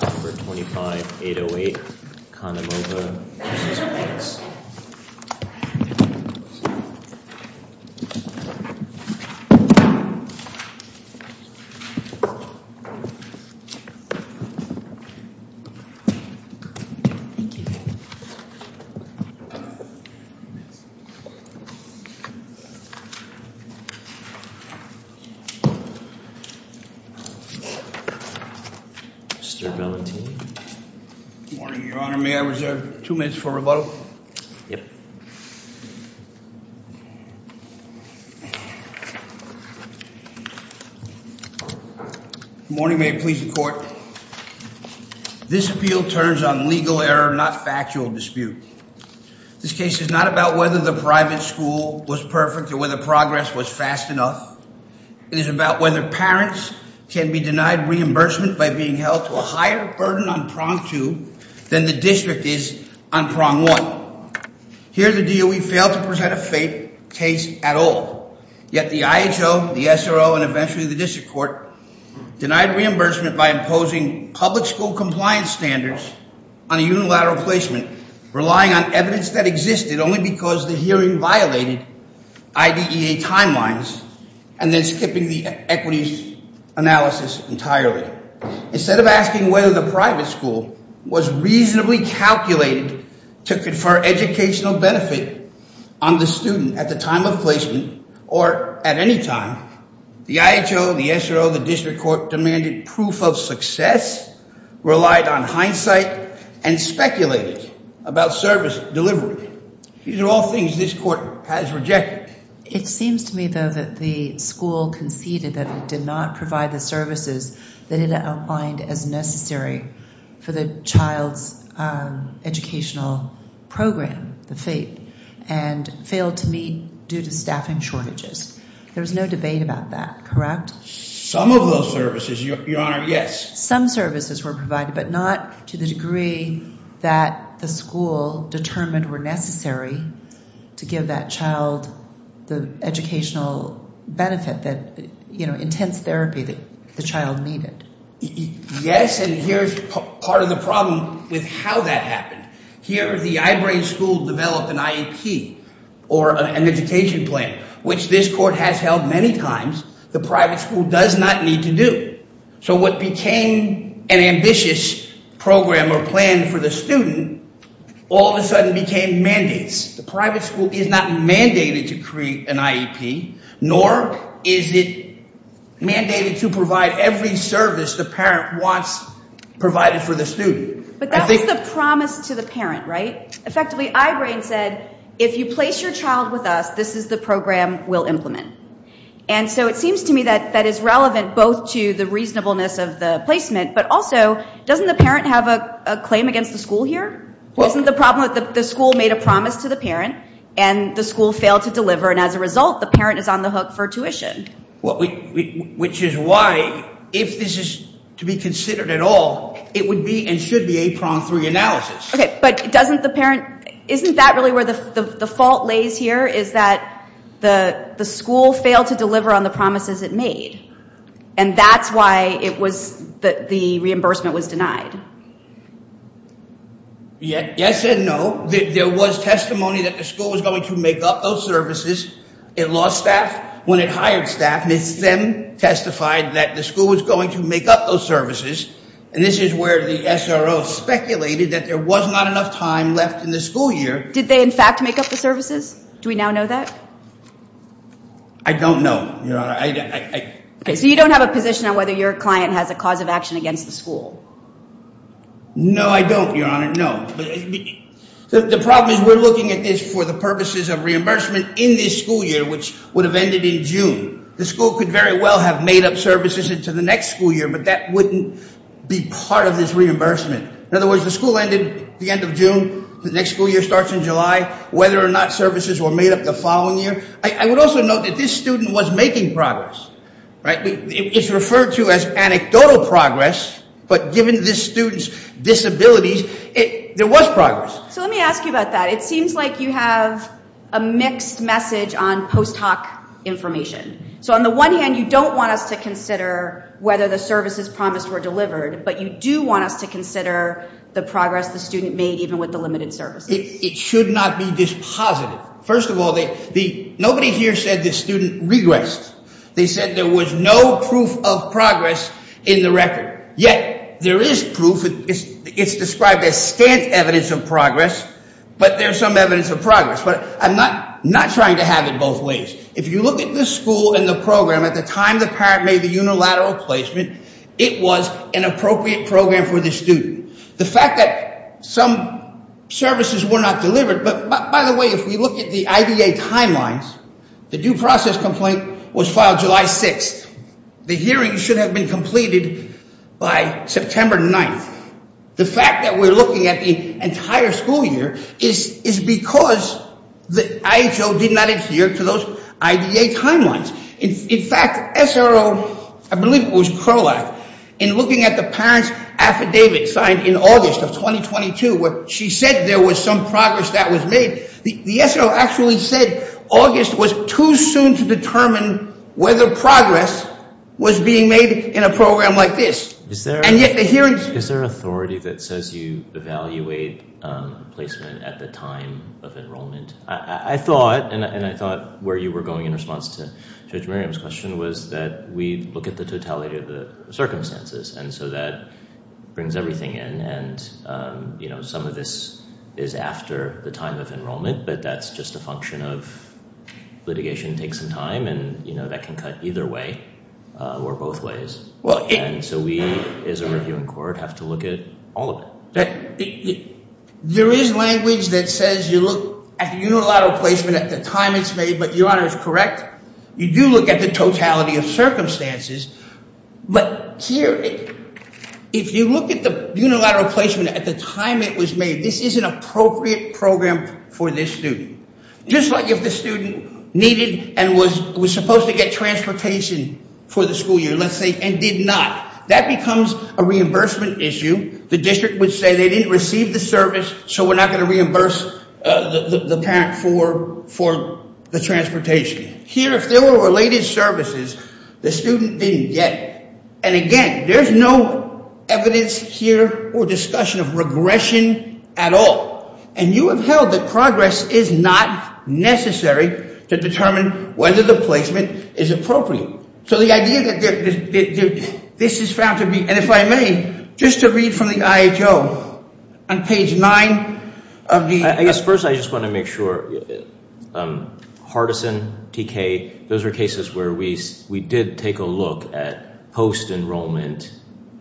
No. 25808, Kahnimova v. Banks. Mr. Valentini. Good morning, Your Honor. May I reserve two minutes for rebuttal? Yes. Good morning. May it please the Court. This appeal turns on legal error, not factual dispute. This case is not about whether the private school was perfect or whether progress was fast enough. It is about whether parents can be denied reimbursement by being held to a higher burden on prong two than the district is on prong one. Here the DOE failed to present a fake case at all. Yet the IHO, the SRO, and eventually the district court denied reimbursement by imposing public school compliance standards on a unilateral placement, relying on evidence that existed only because the hearing violated IDEA timelines and then skipping the equities analysis entirely. Instead of asking whether the private school was reasonably calculated to confer educational benefit on the student at the time of placement or at any time, the IHO, the SRO, and the district court demanded proof of success, relied on hindsight, and speculated about service delivery. These are all things this Court has rejected. It seems to me, though, that the school conceded that it did not provide the services that it outlined as necessary for the child's educational program, the FAPE, and failed to meet due to staffing shortages. There's no debate about that, correct? Some of those services, Your Honor, yes. Some services were provided but not to the degree that the school determined were necessary to give that child the educational benefit that, you know, intense therapy that the child needed. Yes, and here's part of the problem with how that happened. Here the I-BRAIN school developed an IEP or an education plan, which this Court has held many times the private school does not need to do. So what became an ambitious program or plan for the student all of a sudden became mandates. The private school is not mandated to create an IEP, nor is it mandated to provide every service the parent wants provided for the student. But that was the promise to the parent, right? Effectively, I-BRAIN said if you place your child with us, this is the program we'll implement. And so it seems to me that that is relevant both to the reasonableness of the placement but also doesn't the parent have a claim against the school here? Isn't the problem that the school made a promise to the parent and the school failed to deliver, and as a result, the parent is on the hook for tuition? Which is why if this is to be considered at all, it would be and should be a prong-free analysis. Okay, but doesn't the parent – isn't that really where the fault lays here is that the school failed to deliver on the promises it made? And that's why it was – the reimbursement was denied? Yes and no. There was testimony that the school was going to make up those services. It lost staff when it hired staff. It then testified that the school was going to make up those services. And this is where the SRO speculated that there was not enough time left in the school year. Did they in fact make up the services? Do we now know that? I don't know, Your Honor. Okay, so you don't have a position on whether your client has a cause of action against the school? No, I don't, Your Honor. I don't know. The problem is we're looking at this for the purposes of reimbursement in this school year, which would have ended in June. The school could very well have made up services into the next school year, but that wouldn't be part of this reimbursement. In other words, the school ended the end of June, the next school year starts in July, whether or not services were made up the following year. I would also note that this student was making progress. It's referred to as anecdotal progress, but given this student's disabilities, there was progress. So let me ask you about that. It seems like you have a mixed message on post hoc information. So on the one hand, you don't want us to consider whether the services promised were delivered, but you do want us to consider the progress the student made even with the limited services. It should not be dispositive. First of all, nobody here said this student regressed. They said there was no proof of progress in the record. Yet there is proof. It's described as stant evidence of progress, but there's some evidence of progress. But I'm not trying to have it both ways. If you look at the school and the program, at the time the parent made the unilateral placement, it was an appropriate program for the student. The fact that some services were not delivered, but by the way, if we look at the IDA timelines, the due process complaint was filed July 6th. The hearing should have been completed by September 9th. The fact that we're looking at the entire school year is because the IHO did not adhere to those IDA timelines. In fact, SRO, I believe it was CROAC, in looking at the parent's affidavit signed in August of 2022, where she said there was some progress that was made, the SRO actually said August was too soon to determine whether progress was being made in a program like this. And yet the hearings- Is there an authority that says you evaluate placement at the time of enrollment? I thought, and I thought where you were going in response to Judge Merriam's question, was that we look at the totality of the circumstances. And so that brings everything in. And some of this is after the time of enrollment, but that's just a function of litigation takes some time. And that can cut either way or both ways. And so we, as a review in court, have to look at all of it. There is language that says you look at the unilateral placement at the time it's made, but Your Honor is correct. You do look at the totality of circumstances. But here, if you look at the unilateral placement at the time it was made, this is an appropriate program for this student. Just like if the student needed and was supposed to get transportation for the school year, let's say, and did not, that becomes a reimbursement issue. The district would say they didn't receive the service, so we're not going to reimburse the parent for the transportation. Here, if there were related services, the student didn't get it. And again, there's no evidence here or discussion of regression at all. And you have held that progress is not necessary to determine whether the placement is appropriate. So the idea that this is found to be, and if I may, just to read from the IHO on page 9. I guess first I just want to make sure, Hardison, TK, those are cases where we did take a look at post-enrollment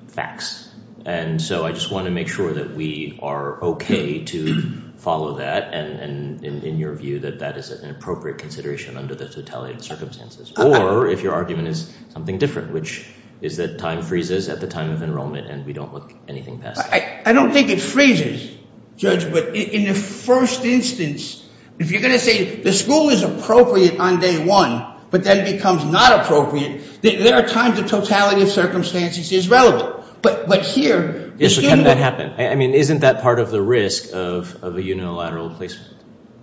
facts. And so I just want to make sure that we are okay to follow that and in your view that that is an appropriate consideration under the totality of circumstances. Or if your argument is something different, which is that time freezes at the time of enrollment and we don't look anything past that. I don't think it freezes, Judge, but in the first instance, if you're going to say the school is appropriate on day one, but then becomes not appropriate, there are times the totality of circumstances is relevant. But here, the student... So can that happen? I mean, isn't that part of the risk of a unilateral placement?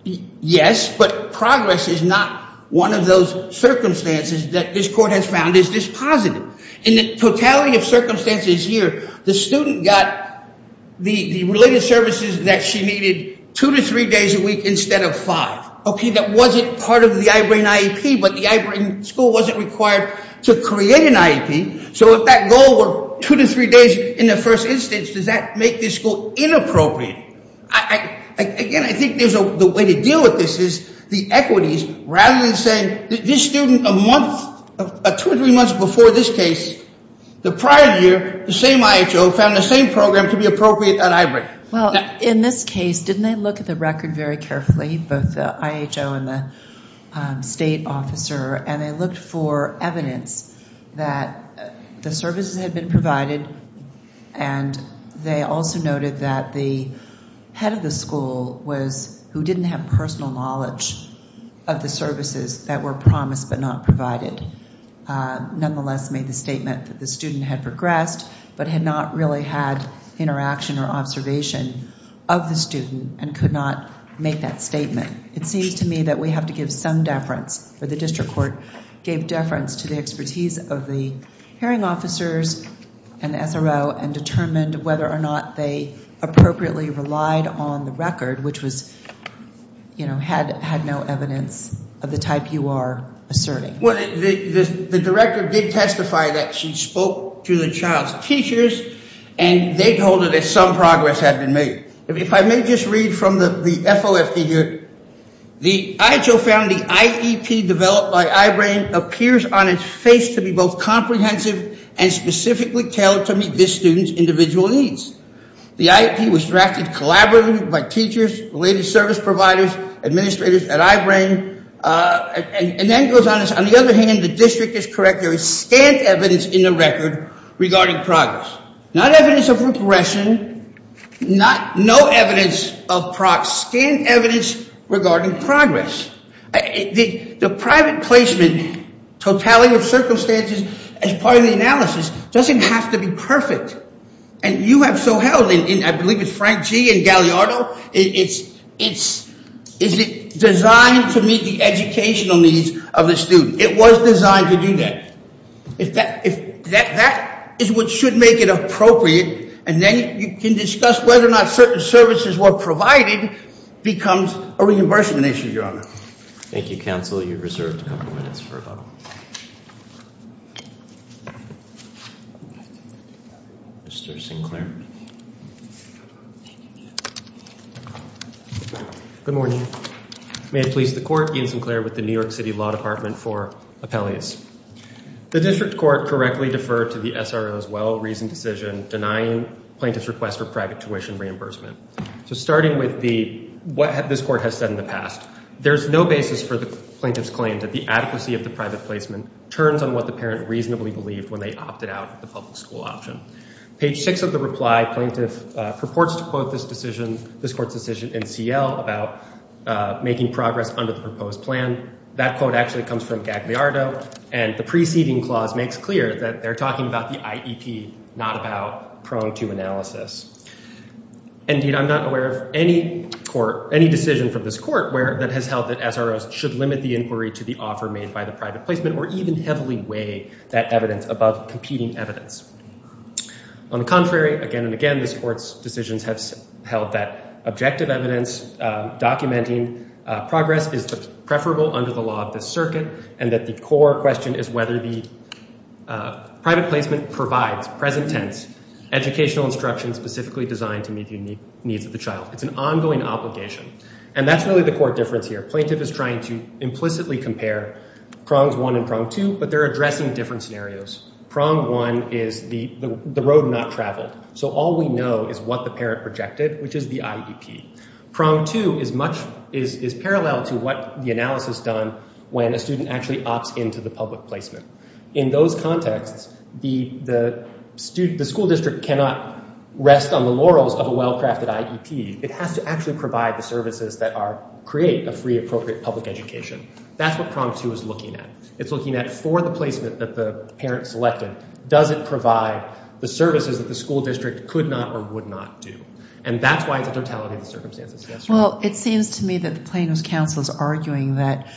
Yes, but progress is not one of those circumstances that this court has found is dispositive. In the totality of circumstances here, the student got the related services that she needed two to three days a week instead of five. Okay, that wasn't part of the I-BRAIN IEP, but the I-BRAIN school wasn't required to create an IEP. So if that goal were two to three days in the first instance, does that make this school inappropriate? Again, I think the way to deal with this is the equities rather than saying this student a month, two or three months before this case, the prior year, the same IHO found the same program to be appropriate on I-BRAIN. Well, in this case, didn't they look at the record very carefully, both the IHO and the state officer, and they looked for evidence that the services had been provided, and they also noted that the head of the school was who didn't have personal knowledge of the services that were promised but not provided. Nonetheless, made the statement that the student had progressed but had not really had interaction or observation of the student and could not make that statement. It seems to me that we have to give some deference, or the district court gave deference to the expertise of the hearing officers and the SRO and determined whether or not they appropriately relied on the record, which was, you know, had no evidence of the type you are asserting. Well, the director did testify that she spoke to the child's teachers, and they told her that some progress had been made. If I may just read from the FOFT here, the IHO found the IEP developed by I-BRAIN appears on its face to be both comprehensive and specifically tailored to meet this student's individual needs. The IEP was drafted collaboratively by teachers, related service providers, administrators at I-BRAIN, and then goes on, on the other hand, the district is correct, there is scant evidence in the record regarding progress. Not evidence of regression, no evidence of progress, scant evidence regarding progress. The private placement totality of circumstances as part of the analysis doesn't have to be perfect. And you have so held, and I believe it's Frank G. and Galliardo, it's designed to meet the educational needs of the student. It was designed to do that. That is what should make it appropriate. And then you can discuss whether or not certain services were provided becomes a reimbursement issue, Your Honor. Thank you, counsel. You're reserved a couple minutes for about a minute. Mr. Sinclair. Good morning. May it please the court, Ian Sinclair with the New York City Law Department for Appellees. The district court correctly deferred to the SRO's well-reasoned decision denying plaintiff's request for private tuition reimbursement. So starting with what this court has said in the past, there's no basis for the plaintiff's claim that the adequacy of the private placement turns on what the parent reasonably believed when they opted out of the public school option. Page six of the reply, plaintiff purports to quote this court's decision in CL about making progress under the proposed plan. That quote actually comes from Galliardo, and the preceding clause makes clear that they're talking about the IEP, not about prone to analysis. Indeed, I'm not aware of any decision from this court that has held that SROs should limit the inquiry to the offer made by the private placement or even heavily weigh that evidence above competing evidence. On the contrary, again and again, this court's decisions have held that objective evidence documenting progress is preferable under the law of the circuit and that the core question is whether the private placement provides present tense educational instruction specifically designed to meet the needs of the child. It's an ongoing obligation, and that's really the core difference here. Plaintiff is trying to implicitly compare prongs one and prong two, but they're addressing different scenarios. Prong one is the road not traveled, so all we know is what the parent projected, which is the IEP. Prong two is parallel to what the analysis done when a student actually opts into the public placement. In those contexts, the school district cannot rest on the laurels of a well-crafted IEP. It has to actually provide the services that create a free, appropriate public education. That's what prong two is looking at. It's looking at for the placement that the parent selected, does it provide the services that the school district could not or would not do, and that's why it's a totality of the circumstances. Well, it seems to me that the plaintiff's counsel is arguing that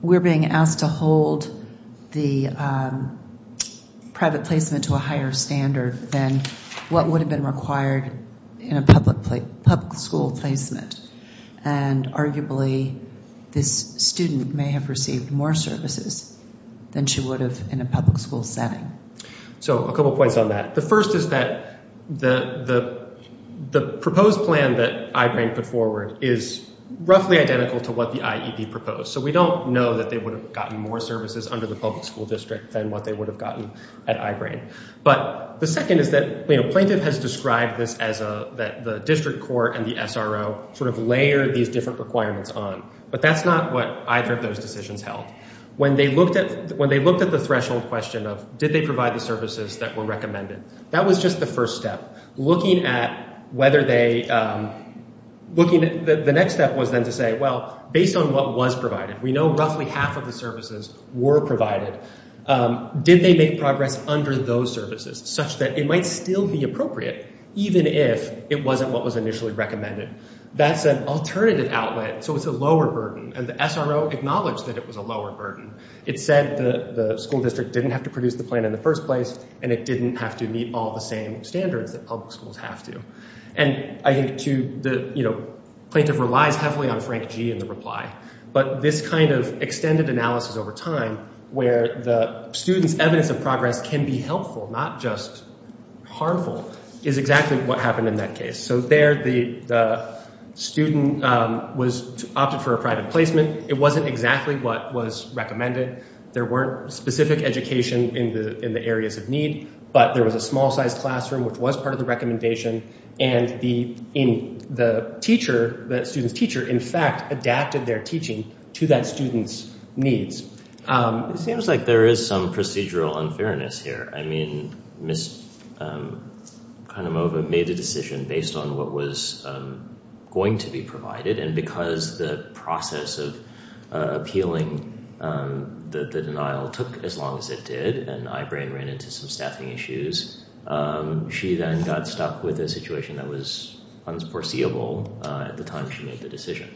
we're being asked to hold the private placement to a higher standard than what would have been required in a public school placement, and arguably this student may have received more services than she would have in a public school setting. So a couple points on that. The first is that the proposed plan that I-BRAIN put forward is roughly identical to what the IEP proposed, so we don't know that they would have gotten more services under the public school district than what they would have gotten at I-BRAIN. But the second is that the plaintiff has described this as the district court and the SRO sort of layered these different requirements on, but that's not what either of those decisions held. When they looked at the threshold question of did they provide the services that were recommended, that was just the first step. Looking at whether they – the next step was then to say, well, based on what was provided, we know roughly half of the services were provided. Did they make progress under those services such that it might still be appropriate even if it wasn't what was initially recommended? That's an alternative outlet, so it's a lower burden, and the SRO acknowledged that it was a lower burden. It said the school district didn't have to produce the plan in the first place, and it didn't have to meet all the same standards that public schools have to. And I think to the – you know, plaintiff relies heavily on Frank G. in the reply, but this kind of extended analysis over time where the student's evidence of progress can be helpful, not just harmful, is exactly what happened in that case. So there the student was – opted for a private placement. It wasn't exactly what was recommended. There weren't specific education in the areas of need, but there was a small-sized classroom, which was part of the recommendation, and the teacher – the student's teacher, in fact, adapted their teaching to that student's needs. It seems like there is some procedural unfairness here. I mean, Ms. Conomova made a decision based on what was going to be provided, and because the process of appealing the denial took as long as it did, and Ibrahim ran into some staffing issues, she then got stuck with a situation that was unforeseeable at the time she made the decision.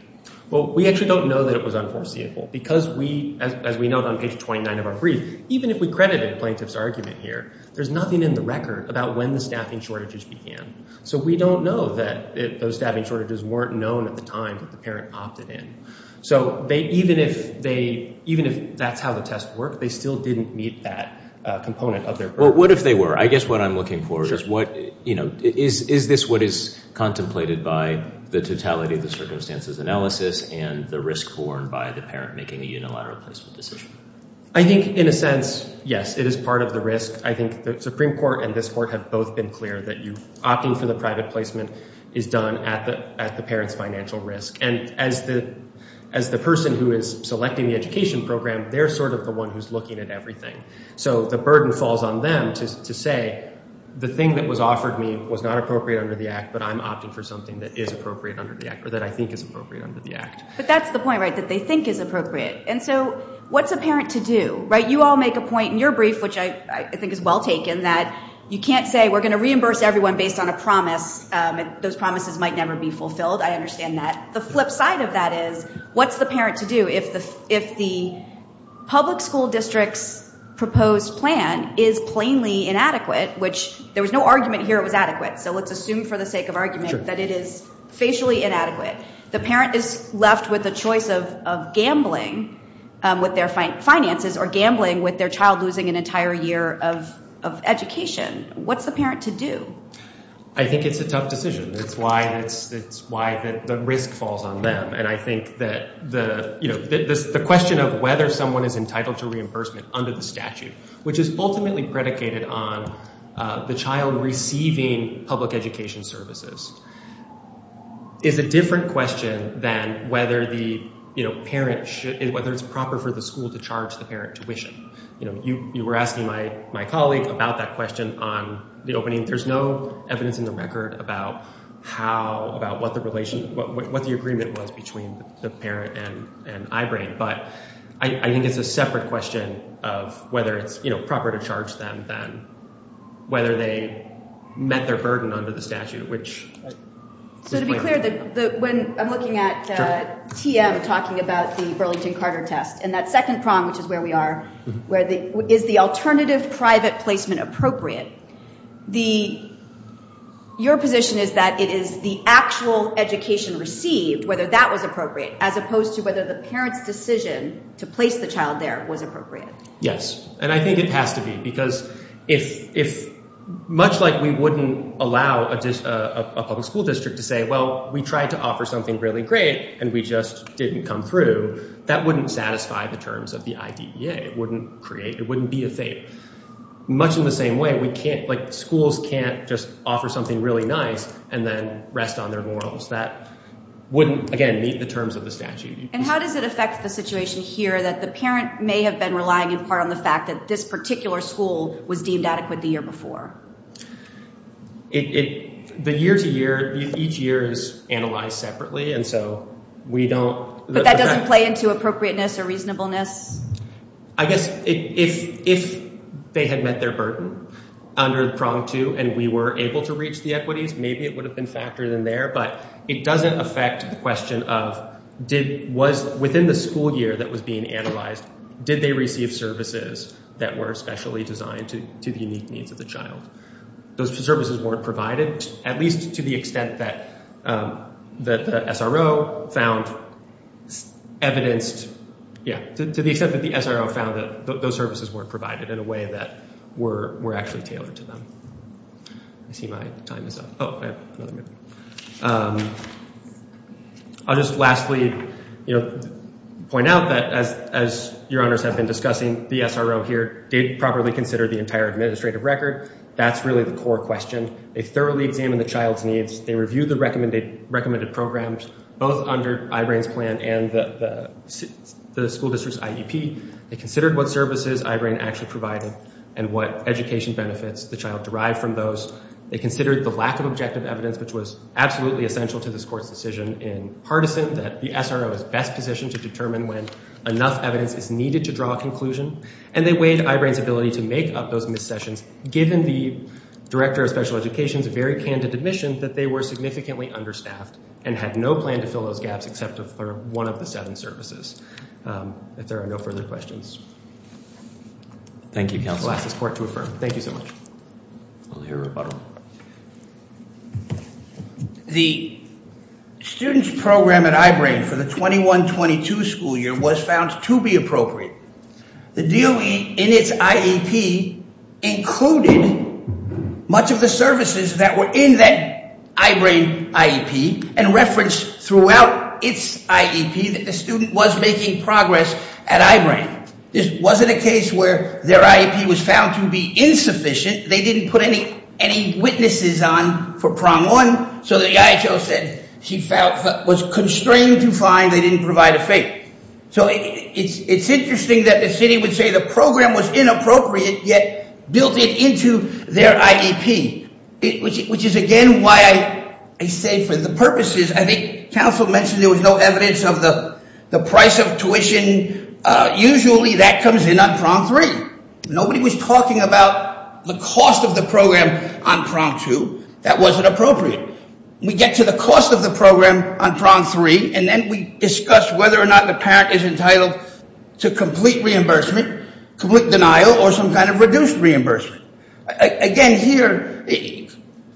Well, we actually don't know that it was unforeseeable because we – as we note on page 29 of our brief, even if we credited a plaintiff's argument here, there's nothing in the record about when the staffing shortages began. So we don't know that those staffing shortages weren't known at the time that the parent opted in. So they – even if they – even if that's how the test worked, they still didn't meet that component of their purpose. Well, what if they were? I guess what I'm looking for is what – you know, is this what is contemplated by the totality of the circumstances analysis and the risk borne by the parent making a unilateral placement decision? I think in a sense, yes, it is part of the risk. I think the Supreme Court and this Court have both been clear that you – opting for the private placement is done at the parent's financial risk. And as the person who is selecting the education program, they're sort of the one who's looking at everything. So the burden falls on them to say the thing that was offered me was not appropriate under the Act, but I'm opting for something that is appropriate under the Act or that I think is appropriate under the Act. But that's the point, right, that they think is appropriate. And so what's a parent to do, right? You all make a point in your brief, which I think is well taken, that you can't say we're going to reimburse everyone based on a promise. Those promises might never be fulfilled. I understand that. The flip side of that is what's the parent to do if the public school district's proposed plan is plainly inadequate, which there was no argument here it was adequate. So let's assume for the sake of argument that it is facially inadequate. The parent is left with a choice of gambling with their finances or gambling with their child losing an entire year of education. What's the parent to do? I think it's a tough decision. It's why the risk falls on them. And I think that the question of whether someone is entitled to reimbursement under the statute, which is ultimately predicated on the child receiving public education services, is a different question than whether it's proper for the school to charge the parent tuition. You were asking my colleague about that question on the opening. I mean, there's no evidence in the record about what the agreement was between the parent and Ibrane. But I think it's a separate question of whether it's proper to charge them than whether they met their burden under the statute, which is plainly inadequate. So to be clear, when I'm looking at TM talking about the Burlington-Carter test and that second prong, which is where we are, where is the alternative private placement appropriate, your position is that it is the actual education received, whether that was appropriate, as opposed to whether the parent's decision to place the child there was appropriate. Yes, and I think it has to be, because much like we wouldn't allow a public school district to say, well, we tried to offer something really great and we just didn't come through. That wouldn't satisfy the terms of the IDEA. It wouldn't create, it wouldn't be a thing. Much in the same way, we can't, like schools can't just offer something really nice and then rest on their morals. That wouldn't, again, meet the terms of the statute. And how does it affect the situation here that the parent may have been relying in part on the fact that this particular school was deemed adequate the year before? The year-to-year, each year is analyzed separately, and so we don't. But that doesn't play into appropriateness or reasonableness? I guess if they had met their burden under prong two and we were able to reach the equities, maybe it would have been factored in there. But it doesn't affect the question of, within the school year that was being analyzed, did they receive services that were specially designed to the unique needs of the child? Those services weren't provided, at least to the extent that the SRO found evidenced, yeah, to the extent that the SRO found that those services weren't provided in a way that were actually tailored to them. I see my time is up. Oh, I have another minute. I'll just lastly point out that, as your honors have been discussing, the SRO here did properly consider the entire administrative record. That's really the core question. They thoroughly examined the child's needs. They reviewed the recommended programs, both under I-RAIN's plan and the school district's IEP. They considered what services I-RAIN actually provided and what education benefits the child derived from those. They considered the lack of objective evidence, which was absolutely essential to this court's decision in partisan, that the SRO is best positioned to determine when enough evidence is needed to draw a conclusion. And they weighed I-RAIN's ability to make up those missed sessions, given the Director of Special Education's very candid admission that they were significantly understaffed and had no plan to fill those gaps except for one of the seven services. If there are no further questions, I'll ask this court to affirm. Thank you so much. We'll hear a rebuttal. The student's program at I-RAIN for the 21-22 school year was found to be appropriate. The DOE, in its IEP, included much of the services that were in that I-RAIN IEP and referenced throughout its IEP that the student was making progress at I-RAIN. This wasn't a case where their IEP was found to be insufficient. They didn't put any witnesses on for prong one, so the IHO said she was constrained to find they didn't provide a fate. So it's interesting that the city would say the program was inappropriate, yet built it into their IEP, which is again why I say for the purposes, I think counsel mentioned there was no evidence of the price of tuition and usually that comes in on prong three. Nobody was talking about the cost of the program on prong two. That wasn't appropriate. We get to the cost of the program on prong three, and then we discuss whether or not the parent is entitled to complete reimbursement, complete denial, or some kind of reduced reimbursement. Again here,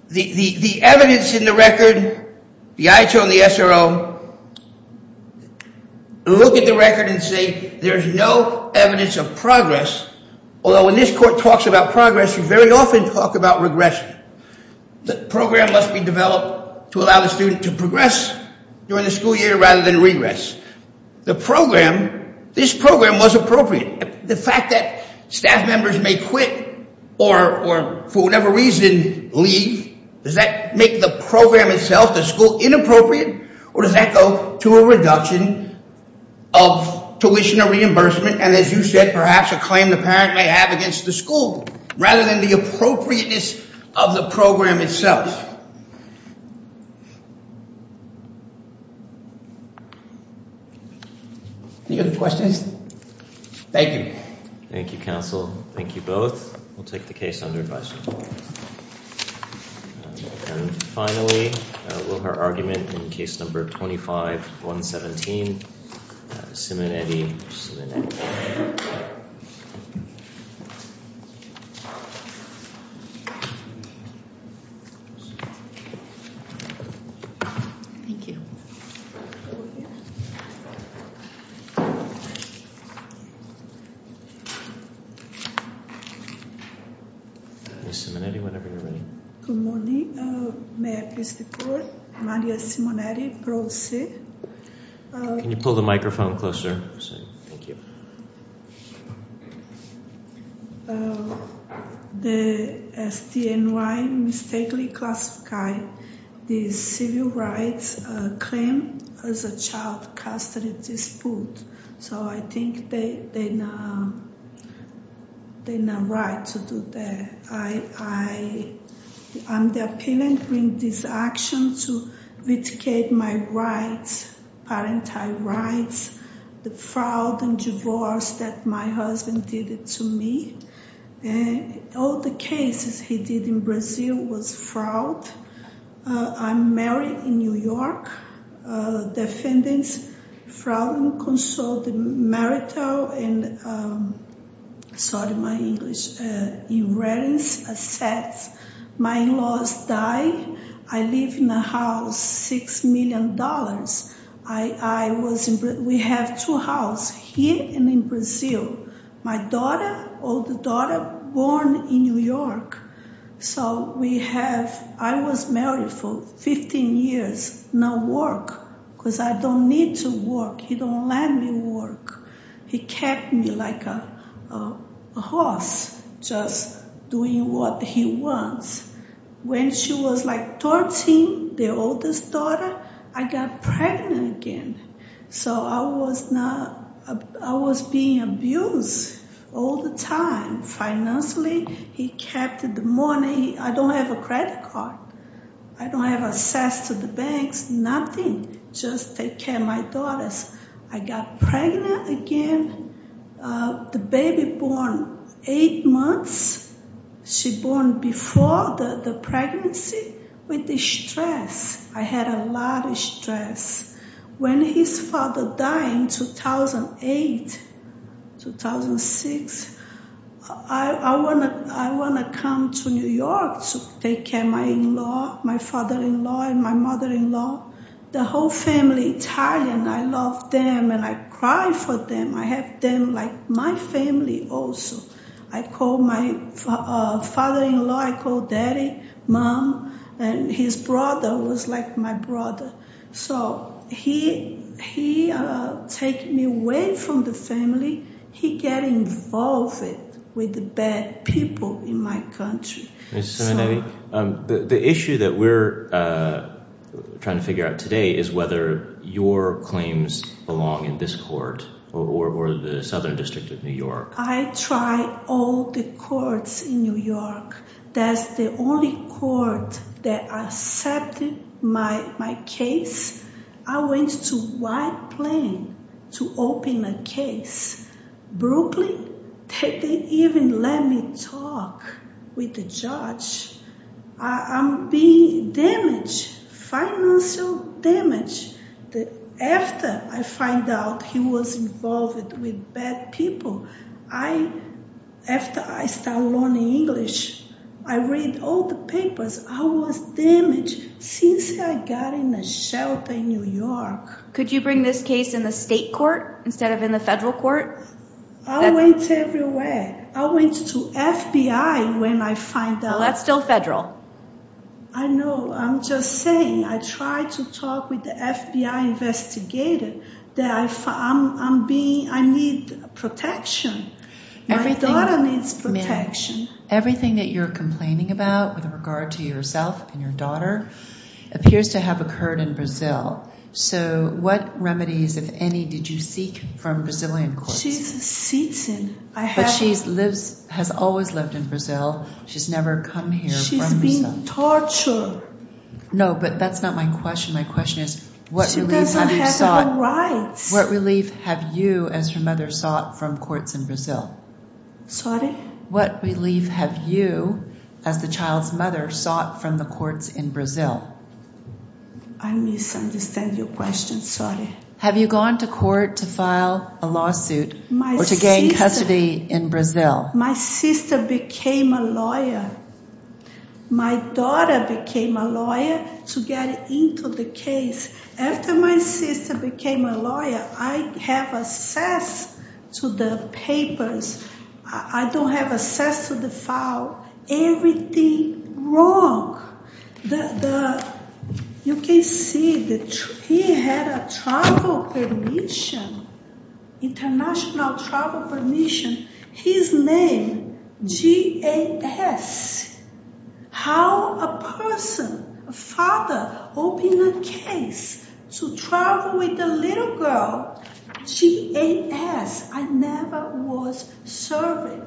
the evidence in the record, the IHO and the SRO look at the record and say there's no evidence of progress. Although when this court talks about progress, we very often talk about regression. The program must be developed to allow the student to progress during the school year rather than regress. The program, this program was appropriate. The fact that staff members may quit or for whatever reason leave, does that make the program itself, the school, inappropriate? Or does that go to a reduction of tuition or reimbursement? And as you said, perhaps a claim the parent may have against the school rather than the appropriateness of the program itself. Any other questions? Thank you. Thank you, counsel. Thank you both. We'll take the case under advisory. And finally, we'll have our argument in case number 25-117, Simonetti-Simonetti. Ms. Simonetti. Thank you. Ms. Simonetti, whenever you're ready. Good morning. May I please report? Maria Simonetti, Pro Se. Can you pull the microphone closer? Thank you. The STNY mistakenly classified the civil rights claim as a child custody dispute. So I think they're not right to do that. I'm the appealant in this action to litigate my rights, parental rights, the fraud and divorce that my husband did to me. And all the cases he did in Brazil was fraud. I'm married in New York. Defendants fraud and consolidated marital and, sorry, my English, inheritance assets. My in-laws died. I live in a house, $6 million. We have two houses, here and in Brazil. My daughter, older daughter, born in New York. So we have, I was married for 15 years. No work, because I don't need to work. He don't let me work. He kept me like a horse, just doing what he wants. When she was like 13, the oldest daughter, I got pregnant again. So I was not, I was being abused all the time. Financially, he kept the money. I don't have a credit card. I don't have access to the banks, nothing. Just take care of my daughters. I got pregnant again. The baby born eight months. She born before the pregnancy with the stress. I had a lot of stress. When his father died in 2008, 2006, I want to come to New York to take care of my in-law, my father-in-law, and my mother-in-law. The whole family Italian, I love them and I cry for them. I have them like my family also. I call my father-in-law, I call daddy, mom, and his brother was like my brother. So he take me away from the family. He get involved with the bad people in my country. Ms. Simonelli, the issue that we're trying to figure out today is whether your claims belong in this court or the Southern District of New York. I tried all the courts in New York. That's the only court that accepted my case. I went to White Plain to open a case. Brooklyn, they didn't even let me talk with the judge. I'm being damaged, financial damage. After I find out he was involved with bad people, after I start learning English, I read all the papers. I was damaged since I got in a shelter in New York. Could you bring this case in the state court instead of in the federal court? I went everywhere. I went to FBI when I find out. Well, that's still federal. I know. I'm just saying I tried to talk with the FBI investigator. I need protection. My daughter needs protection. Everything that you're complaining about with regard to yourself and your daughter appears to have occurred in Brazil. So what remedies, if any, did you seek from Brazilian courts? She's a citizen. But she has always lived in Brazil. She's never come here from Brazil. Torture. No, but that's not my question. My question is what relief have you sought? She doesn't have her rights. What relief have you, as her mother, sought from courts in Brazil? Sorry? What relief have you, as the child's mother, sought from the courts in Brazil? I misunderstand your question. Sorry. Have you gone to court to file a lawsuit or to gain custody in Brazil? My sister became a lawyer. My daughter became a lawyer to get into the case. After my sister became a lawyer, I have access to the papers. I don't have access to the file. Everything wrong. You can see that he had a travel permission, international travel permission. His name, G-A-S. How a person, a father, opened a case to travel with a little girl, G-A-S. I never was serving.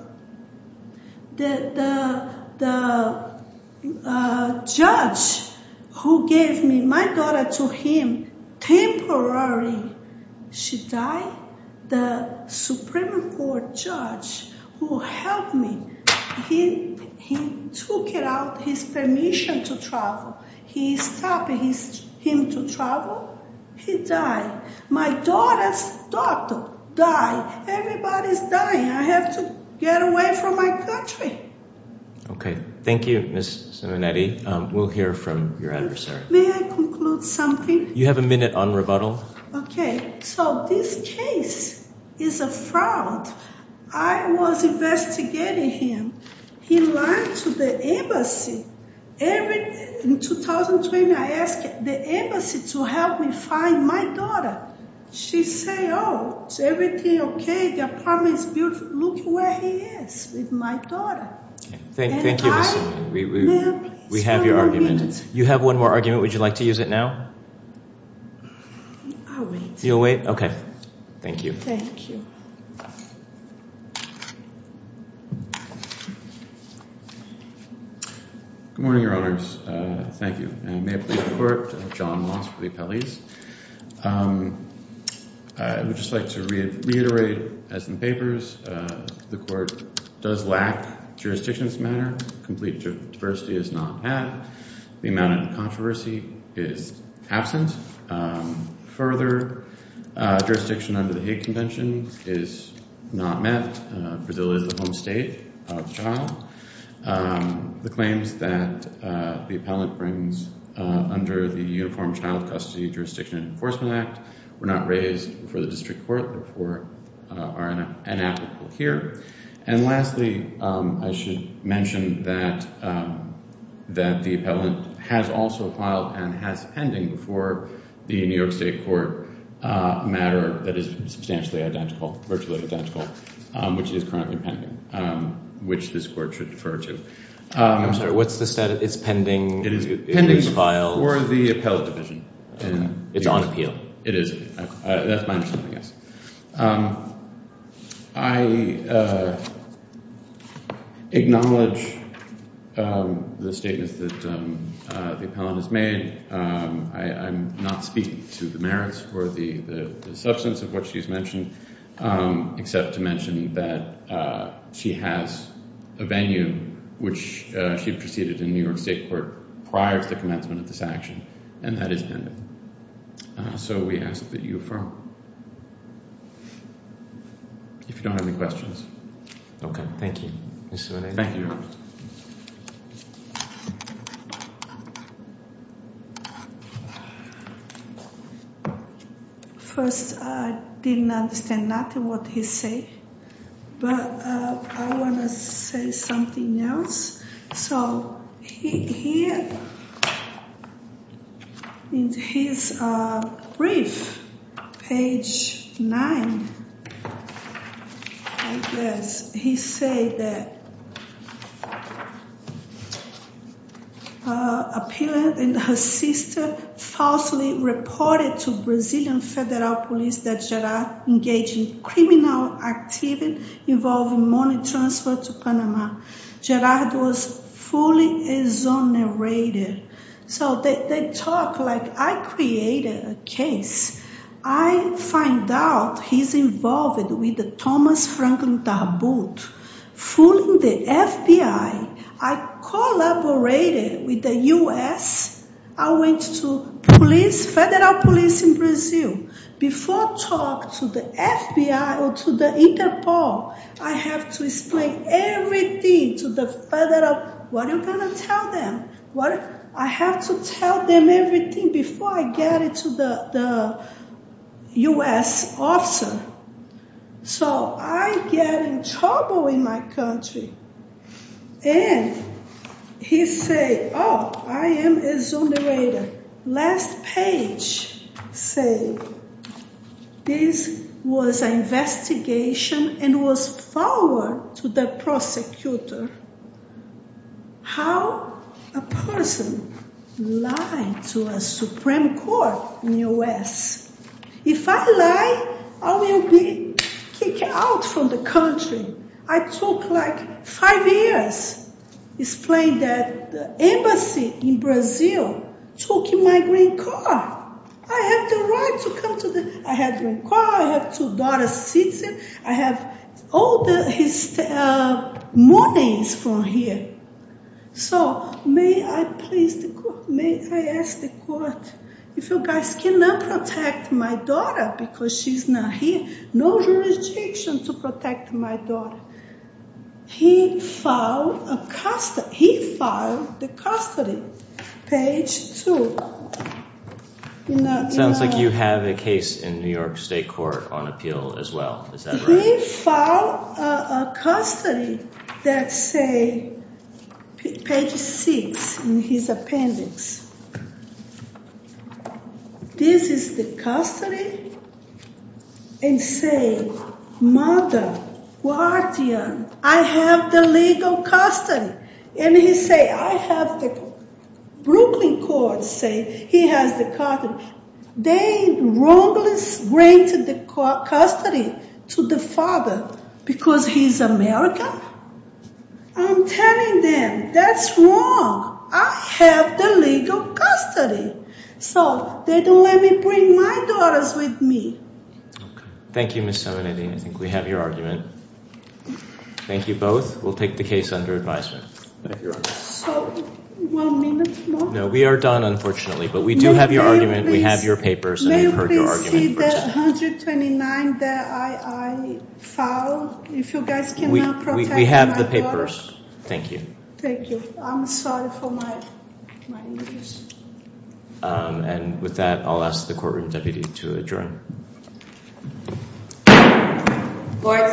The judge who gave me my daughter to him, temporary, she died. The Supreme Court judge who helped me, he took out his permission to travel. He stopped him to travel. He died. My daughter's daughter died. Everybody's dying. I have to get away from my country. Okay. Thank you, Ms. Simonetti. We'll hear from your adversary. May I conclude something? You have a minute on rebuttal. Okay. So this case is a fraud. I was investigating him. He lied to the embassy. In 2020, I asked the embassy to help me find my daughter. She said, oh, is everything okay? The apartment's beautiful. Look where he is with my daughter. Thank you, Ms. Simonetti. We have your argument. You have one more argument. Would you like to use it now? I'll wait. You'll wait? Okay. Thank you. Thank you. Good morning, Your Honors. Thank you. And may it please the Court, John Moss for the appellees. I would just like to reiterate, as in the papers, the Court does lack jurisdictions matter. Complete diversity is not had. The amount of controversy is absent. Further, jurisdiction under the Hague Convention is not met. Brazil is the home state of child. The claims that the appellant brings under the Uniform Child Custody Jurisdiction and Enforcement Act were not raised before the district court before are inapplicable here. And lastly, I should mention that the appellant has also filed and has pending before the New York State Court a matter that is substantially identical, virtually identical, which is currently pending, which this Court should defer to. I'm sorry. What's the status? It's pending? It is pending for the appellate division. It's on appeal? It is. That's my understanding, yes. I acknowledge the statements that the appellant has made. I'm not speaking to the merits or the substance of what she's mentioned, except to mention that she has a venue which she proceeded in New York State Court prior to the commencement of this action, and that is pending. So we ask that you defer. If you don't have any questions. Okay, thank you. Thank you. First, I didn't understand nothing of what he said, but I want to say something else. So here in his brief, page 9, he says that Appellant and her sister falsely reported to Brazilian Federal Police that Gerard engaged in criminal activity involving money transfer to Panama. Gerard was fully exonerated. So they talk like I created a case. I find out he's involved with the Thomas Franklin Tabut, fooling the FBI. I collaborated with the U.S. I went to police, Federal Police in Brazil. Before I talk to the FBI or to the Interpol, I have to explain everything to the Federal. What are you going to tell them? I have to tell them everything before I get it to the U.S. officer. So I get in trouble in my country. And he says, oh, I am exonerated. Last page says, this was an investigation and was forwarded to the prosecutor. How a person lied to a Supreme Court in the U.S. If I lie, I will be kicked out from the country. I took like five years explaining that the embassy in Brazil took my green card. I have the right to come to the… I have green card, I have two daughter citizen. I have all his money is from here. So may I ask the court, if you guys cannot protect my daughter because she's not here, no jurisdiction to protect my daughter. He filed the custody. Page two. It sounds like you have a case in New York State Court on appeal as well. He filed a custody that say, page six in his appendix. This is the custody and say, mother, guardian, I have the legal custody. And he say, I have the Brooklyn court say he has the custody. They wrongly granted the custody to the father because he's American. I'm telling them that's wrong. I have the legal custody. So they don't let me bring my daughters with me. Thank you, Ms. Simonetti. I think we have your argument. Thank you both. We'll take the case under advisement. Thank you, Your Honor. So one minute more? No, we are done, unfortunately. But we do have your argument. We have your papers. And we've heard your argument. May we please see the 129 that I filed? If you guys cannot protect my daughter. We have the papers. Thank you. Thank you. I'm sorry for my English. And with that, I'll ask the courtroom deputy to adjourn. Court stands adjourned.